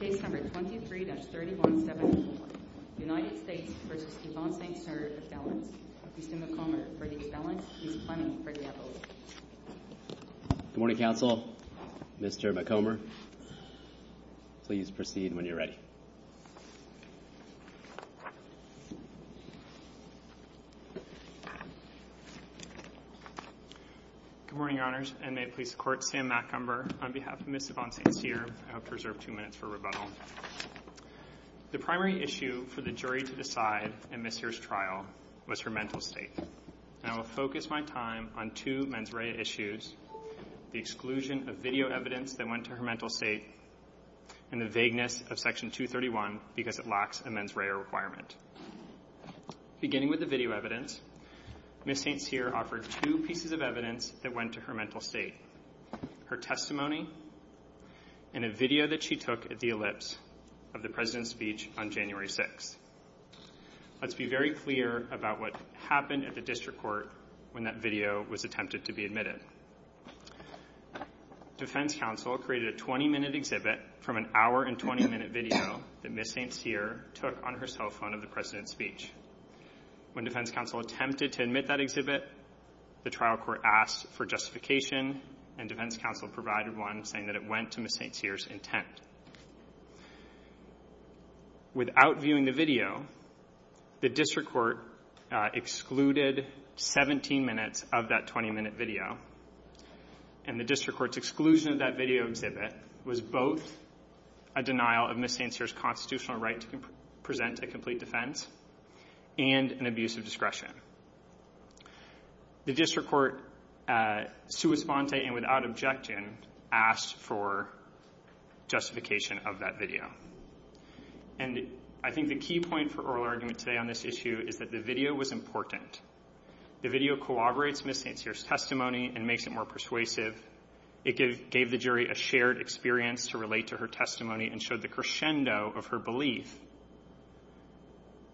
McComber v. Yvonne St Cyr. Mr. McComber for the expellence, Ms. Clemming for the appellate. Good morning, counsel. Mr. McComber, please proceed when you're ready. Good morning, Your Honors, and may it please the Court, Sam McComber on behalf of Ms. Yvonne St Cyr. I hope to reserve two minutes for rebuttal. The primary issue for the jury to decide in Ms. Cyr's trial was her mental state. I will focus my time on two mens rea issues, the exclusion of video evidence that went to her mental state and the vagueness of Section 231 because it lacks a mens rea requirement. Beginning with the video evidence, Ms. St Cyr offered two pieces of evidence that went to her mental state, her testimony and a video that she took at the ellipse of the President's speech on January 6th. Let's be very clear about what happened at the district court when that video was attempted to be admitted. Defense counsel created a 20-minute exhibit from an hour and 20-minute video that Ms. St Cyr took on her cell phone of the President's speech. When defense counsel attempted to admit that exhibit, the trial court asked for justification and defense counsel provided one saying that it went to Ms. St Cyr's intent. Without viewing the video, the district court excluded 17 minutes of that 20-minute video and the district court's exclusion of that video exhibit was both a denial of Ms. St Cyr's constitutional right to present a complete defense and an abuse of discretion. The district court, sua sponte and without objection, asked for justification of that video. And I think the key point for oral argument today on this issue is that the video was important. The video corroborates Ms. St Cyr's testimony and makes it more persuasive. It gave the jury a shared experience to relate to her testimony and showed the crescendo of her belief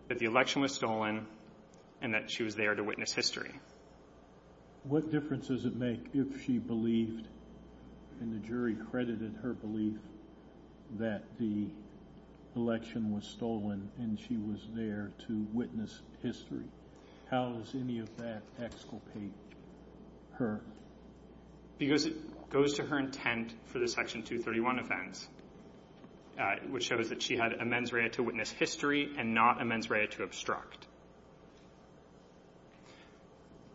that the election was stolen and that she was there to witness history. What difference does it make if she believed and the jury credited her belief that the election was stolen and she was there to witness history? How does any of that exculpate her? Because it goes to her intent for the Section 231 offense, which shows that she had a mens rea to witness history and not a mens rea to obstruct.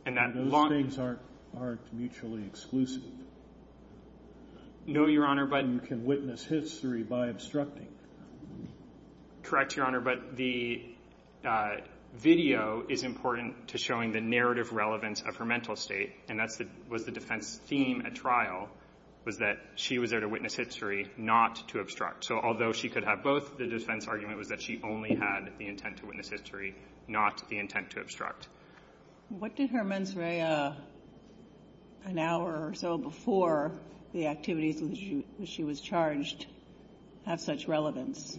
And those things aren't mutually exclusive. No, Your Honor. One can witness history by obstructing. Correct, Your Honor. But the video is important to showing the narrative relevance of her mental state. And that was the defense theme at trial, was that she was there to witness history, not to obstruct. So although she could have both, the defense argument was that she only had the intent to witness history, not the intent to obstruct. What did her mens rea an hour or so before the activities in which she was charged have such relevance?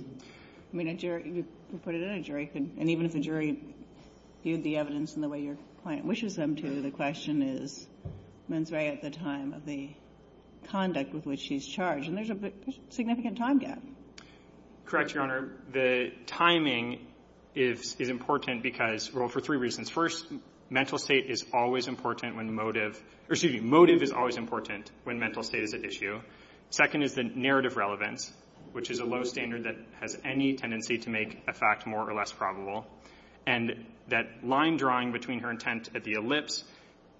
I mean, you put it in a jury, and even if the jury viewed the evidence in the way your client wishes them to, the question is mens rea at the time of the conduct with which she's charged. And there's a significant time gap. Correct, Your Honor. The timing is important because, well, for three reasons. First, mental state is always important when motive or, excuse me, motive is always important when mental state is at issue. Second is the narrative relevance, which is a low standard that has any tendency to make a fact more or less probable. And that line drawing between her intent at the ellipse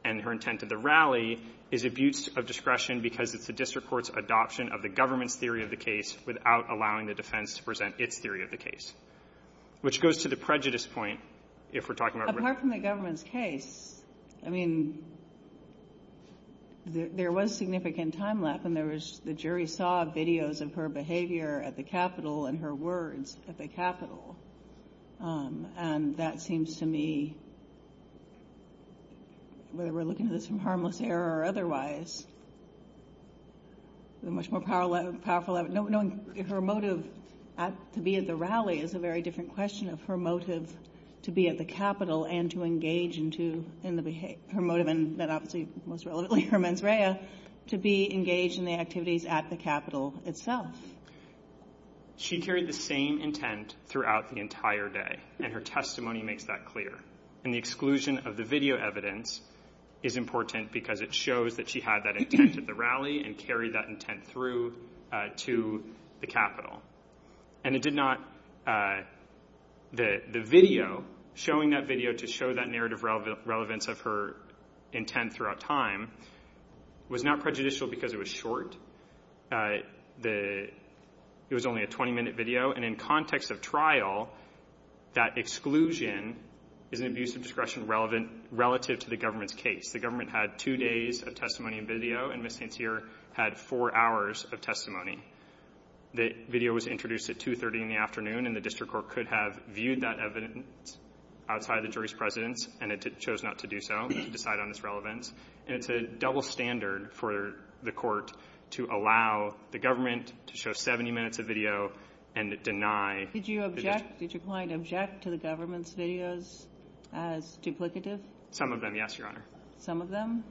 and her intent at the rally is abuse of discretion because it's the district court's adoption of the government's theory of the case without allowing the defense to present its theory of the case. Which goes to the prejudice point, if we're talking about whether the government's case. I mean, there was significant time lap, and there was the jury saw videos of her behavior at the Capitol and her words at the Capitol. And that seems to me, whether we're looking at this from harmless error or otherwise, a much more powerful evidence. Knowing her motive to be at the rally is a very different question of her motive to be at the Capitol and to engage in the behavior. Her motive, and then obviously most relevantly her mens rea, to be engaged in the activities at the Capitol itself. She carried the same intent throughout the entire day, and her testimony makes that clear. And the exclusion of the video evidence is important because it shows that she had that intent at the rally and carried that intent through to the Capitol. And it did not. The video showing that video to show that narrative relevance of her intent throughout time was not prejudicial because it was short. It was only a 20-minute video. And in context of trial, that exclusion is an abuse of discretion relative to the government's case. The government had two days of testimony and video, and Ms. St. Cyr had four hours of testimony. The video was introduced at 2.30 in the afternoon, and the district court could have viewed that evidence outside of the jury's presence, and it chose not to do so, to decide on its relevance. And it's a double standard for the court to allow the government to show 70 minutes of video and deny. Did you object? Did your client object to the government's videos as duplicative? Some of them, yes, Your Honor. Some of them?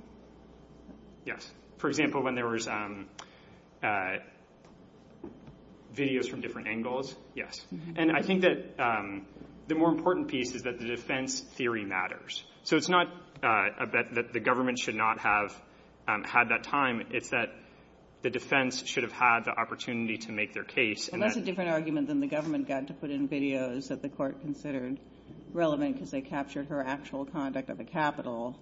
Yes. For example, when there was videos from different angles, yes. And I think that the more important piece is that the defense theory matters. So it's not that the government should not have had that time. It's that the defense should have had the opportunity to make their case. And that's a different argument than the government got to put in videos that the court considered relevant because they captured her actual conduct at the Capitol,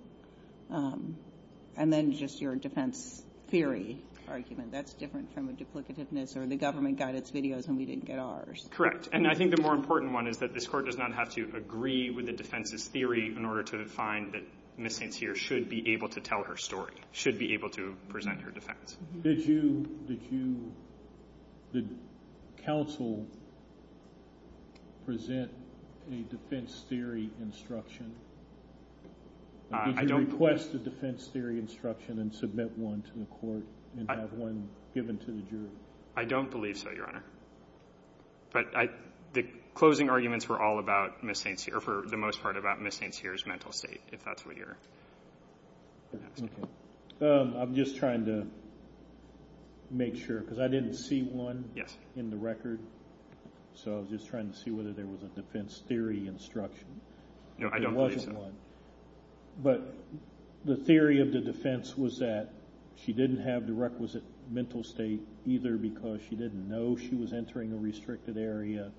and then just your defense theory argument. That's different from a duplicativeness, or the government got its videos and we didn't get ours. Correct. And I think the more important one is that this court does not have to agree with the defense's theory in order to find that Ms. St. Cyr should be able to tell her story, should be able to present her defense. Did you, did counsel present a defense theory instruction? Did you request a defense theory instruction and submit one to the court and have one given to the jury? I don't believe so, Your Honor. But the closing arguments were all about Ms. St. Cyr, or for the most part about Ms. St. Cyr's mental state, if that's what you're asking. I'm just trying to make sure because I didn't see one in the record. Yes. So I was just trying to see whether there was a defense theory instruction. No, I don't believe so. There wasn't one. But the theory of the defense was that she didn't have the requisite mental state either because she didn't know she was entering a restricted area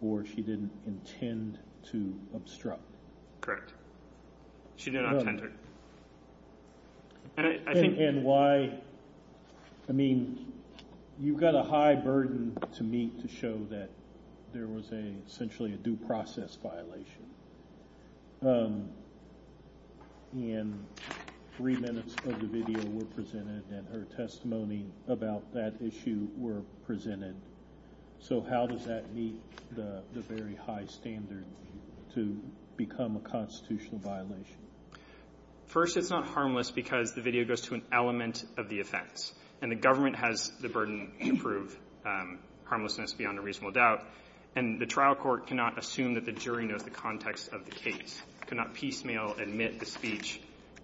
or she didn't intend to obstruct. She did not intend to. And why, I mean, you've got a high burden to meet to show that there was a, essentially a due process violation. In three minutes of the video were presented and her testimony about that issue were presented. So how does that meet the very high standard to become a constitutional violation? First, it's not harmless because the video goes to an element of the offense. And the government has the burden to prove harmlessness beyond a reasonable doubt. And the trial court cannot assume that the jury knows the context of the case, cannot piecemeal admit the speech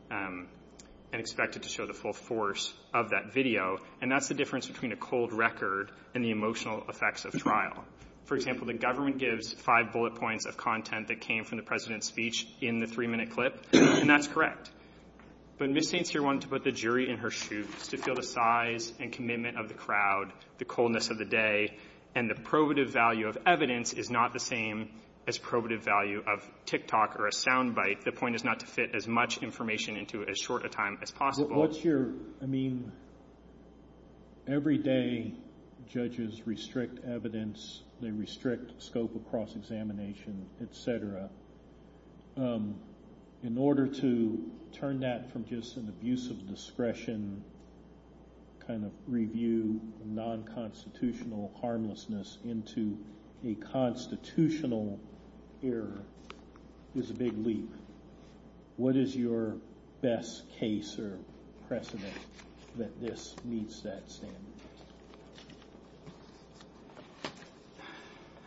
and expect it to show the full force of that video. And that's the difference between a cold record and the emotional effects of trial. For example, the government gives five bullet points of content that came from the President's speech in the three-minute clip. And that's correct. But Ms. St. Cyr wanted to put the jury in her shoes to feel the size and commitment of the crowd, the coldness of the day. And the probative value of evidence is not the same as probative value of tick-tock or a sound bite. The point is not to fit as much information into it as short a time as possible. What's your, I mean, every day judges restrict evidence. They restrict scope across examination, et cetera. In order to turn that from just an abuse of discretion kind of review non-constitutional harmlessness into a constitutional error is a big leap. What is your best case or precedent that this meets that standard?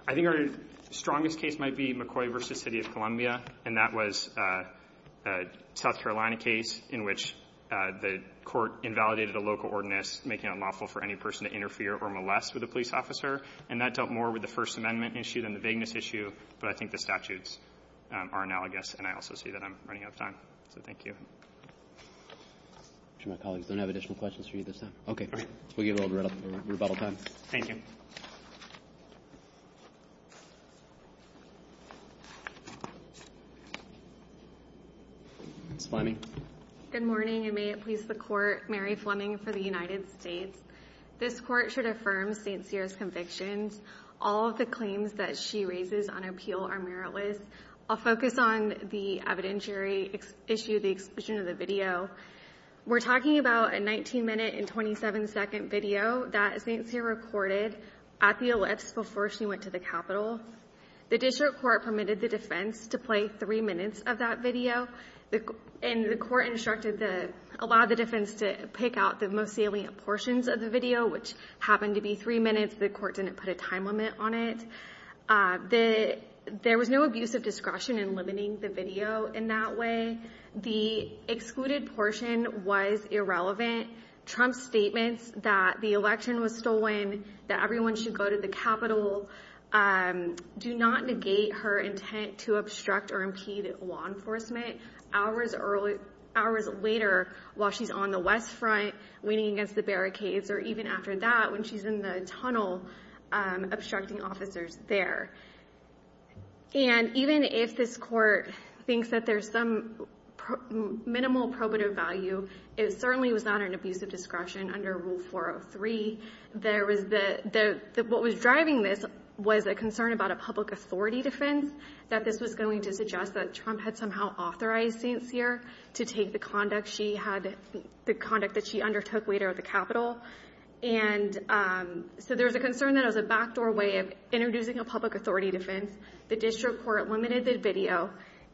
I think our strongest case might be McCoy v. City of Columbia. And that was a South Carolina case in which the court invalidated a local ordinance making it unlawful for any person to interfere or molest with a police officer. And that dealt more with the First Amendment issue than the vagueness issue. But I think the statutes are analogous. And I also see that I'm running out of time. So thank you. I'm sure my colleagues don't have additional questions for you this time. Okay. We'll give it a little bit of rebuttal time. Thank you. Ms. Fleming. Good morning, and may it please the Court. Mary Fleming for the United States. This Court should affirm St. Cyr's convictions. All of the claims that she raises on appeal are meritless. I'll focus on the evidentiary issue, the exclusion of the video. We're talking about a 19-minute and 27-second video that St. Cyr recorded at the ellipse before she went to the Capitol. The district court permitted the defense to play three minutes of that video. And the court instructed the – allowed the defense to pick out the most salient portions of the video, which happened to be three minutes. The court didn't put a time limit on it. There was no abuse of discretion in limiting the video in that way. The excluded portion was irrelevant. Trump's statements that the election was stolen, that everyone should go to the Capitol, do not negate her intent to obstruct or impede law enforcement. Hours later, while she's on the West Front, waiting against the barricades, or even after that, when she's in the tunnel, obstructing officers there. And even if this court thinks that there's some minimal probative value, it certainly was not an abuse of discretion under Rule 403. There was the – what was driving this was a concern about a public authority defense, that this was going to suggest that Trump had somehow authorized St. Cyr to take the conduct she had – the conduct that she undertook later at the Capitol. And so there was a concern that it was a backdoor way of introducing a public authority defense. The district court limited the video.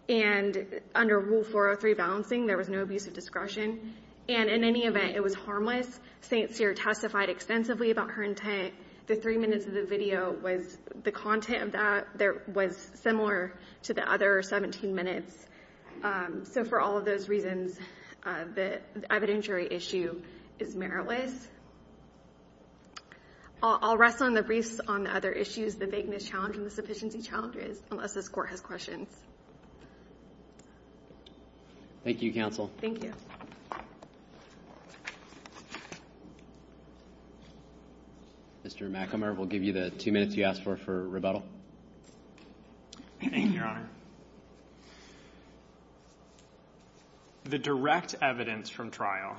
And under Rule 403 balancing, there was no abuse of discretion. And in any event, it was harmless. St. Cyr testified extensively about her intent. The three minutes of the video was – the content of that was similar to the other 17 minutes. So for all of those reasons, the evidentiary issue is meritless. I'll rest on the briefs on the other issues, the vagueness challenge and the sufficiency challenge, unless this court has questions. Thank you, counsel. Thank you. Mr. McAmyer, we'll give you the two minutes you asked for for rebuttal. Thank you, Your Honor. The direct evidence from trial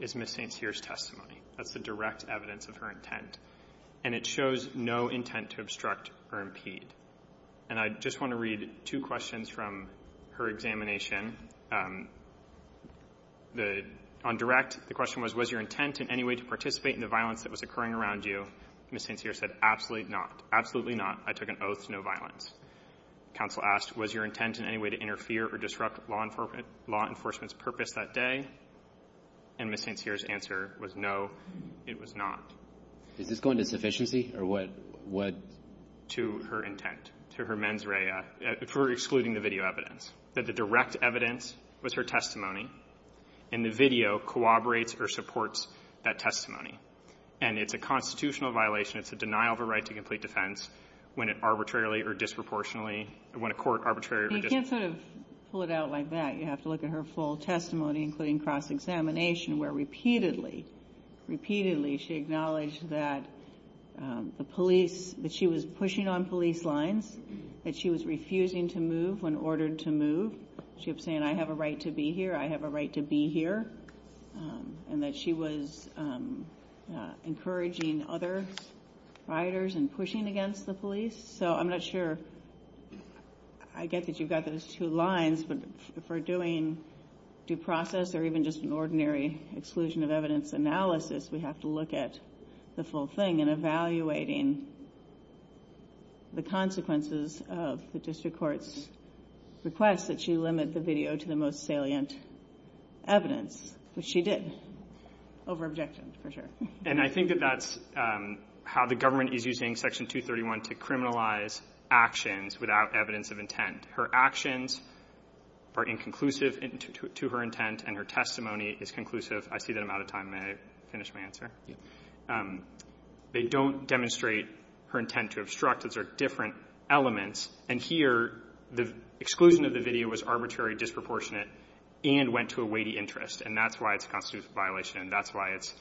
is Ms. St. Cyr's testimony. That's the direct evidence of her intent. And it shows no intent to obstruct or impede. And I just want to read two questions from her examination. On direct, the question was, was your intent in any way to participate in the violence that was occurring around you? Ms. St. Cyr said, absolutely not. Absolutely not. I took an oath to no violence. Counsel asked, was your intent in any way to interfere or disrupt law enforcement's purpose that day? And Ms. St. Cyr's answer was, no, it was not. Is this going to sufficiency or what? To her intent, to her mens rea, for excluding the video evidence. That the direct evidence was her testimony, and the video corroborates or supports that testimony. And it's a constitutional violation. It's a denial of a right to complete defense when it arbitrarily or disproportionately or when a court arbitrarily or disproportionately. You can't sort of pull it out like that. You have to look at her full testimony, including cross-examination, where repeatedly, repeatedly she acknowledged that the police, that she was pushing on police lines, that she was refusing to move when ordered to move. She kept saying, I have a right to be here. I have a right to be here. And that she was encouraging other rioters and pushing against the police. So I'm not sure. I get that you've got those two lines, but for doing due process or even just an ordinary exclusion of evidence analysis, we have to look at the full thing. And evaluating the consequences of the district court's request that she limit the video to the most salient evidence, which she did, over-objected, for sure. And I think that that's how the government is using Section 231 to criminalize actions without evidence of intent. Her actions are inconclusive to her intent, and her testimony is conclusive. I see that I'm out of time. May I finish my answer? Yeah. They don't demonstrate her intent to obstruct. Those are different elements. And here, the exclusion of the video was arbitrary, disproportionate, and went to a weighty interest. And that's why it's a constitutional violation, and that's why it's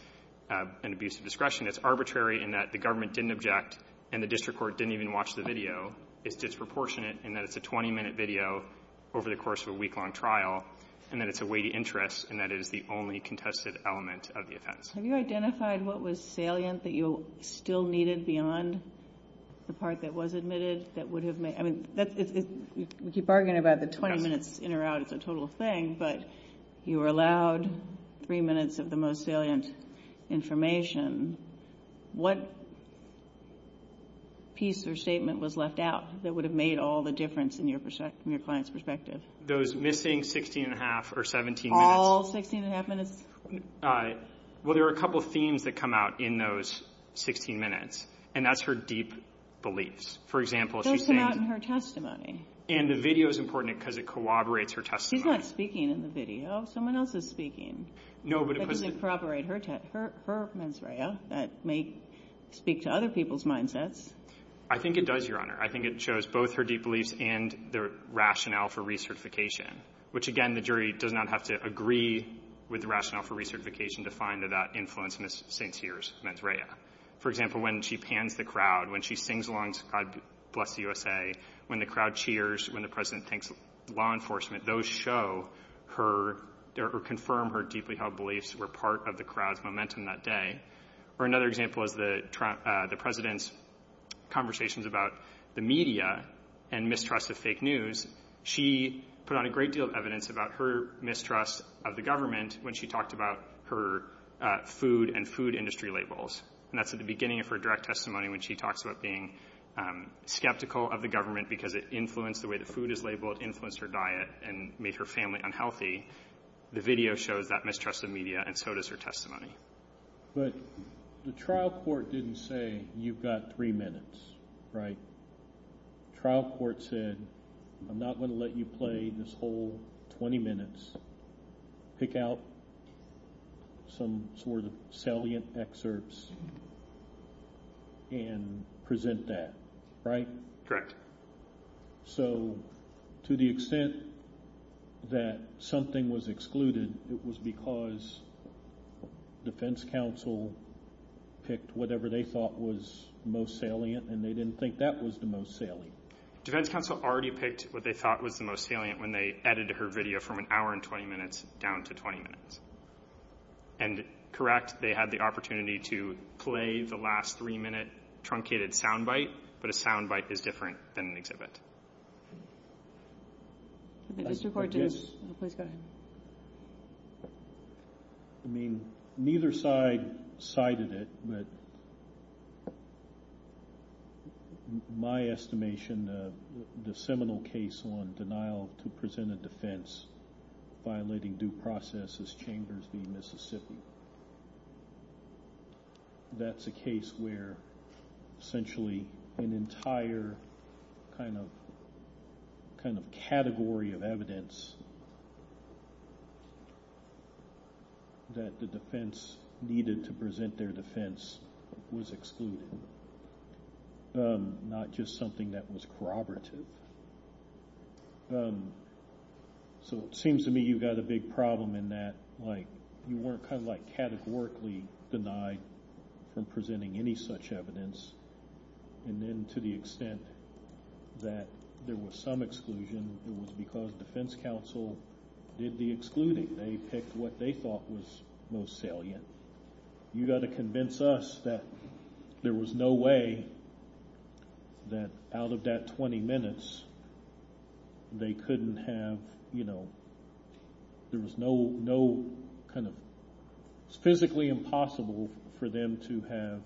an abuse of discretion. It's arbitrary in that the government didn't object, and the district court didn't even watch the video. It's disproportionate in that it's a 20-minute video over the course of a week-long trial, and that it's a weighty interest, and that it is the only contested element of the offense. Have you identified what was salient that you still needed beyond the part that was admitted that would have made – I mean, we keep arguing about the 20 minutes in or out. It's a total thing. But you were allowed three minutes of the most salient information. What piece or statement was left out that would have made all the difference in your client's perspective? Those missing 16 and a half or 17 minutes. All 16 and a half minutes? Well, there are a couple of themes that come out in those 16 minutes, and that's her deep beliefs. For example, she's saying – It does come out in her testimony. And the video is important because it corroborates her testimony. She's not speaking in the video. Someone else is speaking. No, but it – But does it corroborate her mens rea that may speak to other people's mindsets? I think it does, Your Honor. I think it shows both her deep beliefs and the rationale for recertification, which, again, the jury does not have to agree with the rationale for recertification to find that that influenced Ms. St. Cyr's mens rea. For example, when she pans the crowd, when she sings along to God Bless the USA, when the crowd cheers, when the President thanks law enforcement, those show her or confirm her deeply held beliefs were part of the crowd's momentum that day. Or another example is the President's conversations about the media and mistrust of fake news. She put on a great deal of evidence about her mistrust of the government when she talked about her food and food industry labels. And that's at the beginning of her direct testimony when she talks about being skeptical of the government because it influenced the way the food is labeled, influenced her diet, and made her family unhealthy. The video shows that mistrust of media, and so does her testimony. But the trial court didn't say you've got three minutes, right? The trial court said I'm not going to let you play this whole 20 minutes. Pick out some sort of salient excerpts and present that, right? So to the extent that something was excluded, it was because defense counsel picked whatever they thought was most salient, and they didn't think that was the most salient. Defense counsel already picked what they thought was the most salient when they edited her video from an hour and 20 minutes down to 20 minutes. And, correct, they had the opportunity to play the last three-minute truncated sound bite, but a sound bite is different than an exhibit. Mr. Court, please go ahead. I mean, neither side cited it, but my estimation, the seminal case on denial to present a defense violating due process is Chambers v. Mississippi. That's a case where essentially an entire kind of category of evidence that the defense needed to present their defense was excluded, not just something that was corroborative. So it seems to me you've got a big problem in that, like, you weren't kind of like categorically denied from presenting any such evidence. And then to the extent that there was some exclusion, it was because defense counsel did the excluding. They picked what they thought was most salient. You've got to convince us that there was no way that out of that 20 minutes they couldn't have, you know, there was no kind of physically impossible for them to have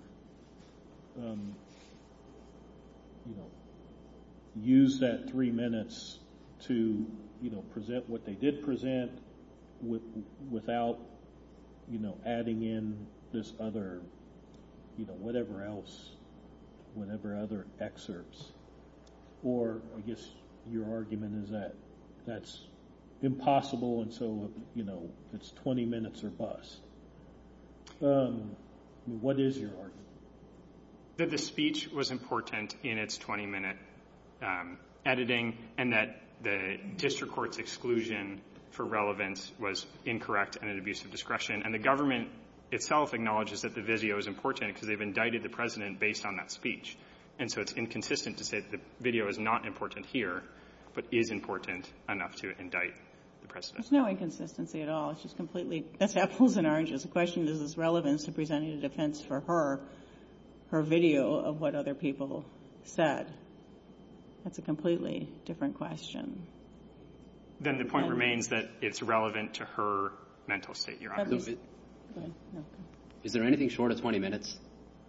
used that three minutes to present what they did present without, you know, adding in this other, you know, whatever else, whatever other excerpts. Or I guess your argument is that that's impossible and so, you know, it's 20 minutes or less. What is your argument? That the speech was important in its 20-minute editing and that the district court's exclusion for relevance was incorrect and an abuse of discretion. And the government itself acknowledges that the video is important because they've indicted the President based on that speech. And so it's inconsistent to say that the video is not important here, but is important enough to indict the President. It's no inconsistency at all. It's just completely, that's apples and oranges. The question is, is relevance to presenting a defense for her, her video of what other people said. That's a completely different question. Then the point remains that it's relevant to her mental state, Your Honor. Is there anything short of 20 minutes?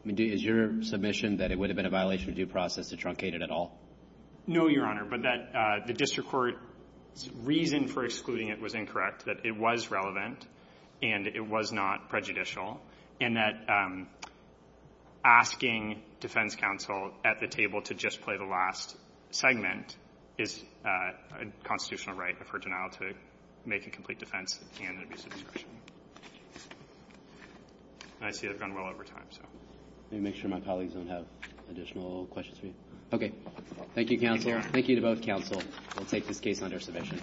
Is your submission that it would have been a violation of due process to truncate it at all? No, Your Honor, but that the district court's reason for excluding it was incorrect, that it was relevant and it was not prejudicial, and that asking defense counsel at the table to just play the last segment is a constitutional right of her denial to make a complete defense and an abuse of discretion. And I see I've gone well over time, so. Let me make sure my colleagues don't have additional questions for you. Okay. Thank you, counsel. Thank you to both counsel. We'll take this case under submission.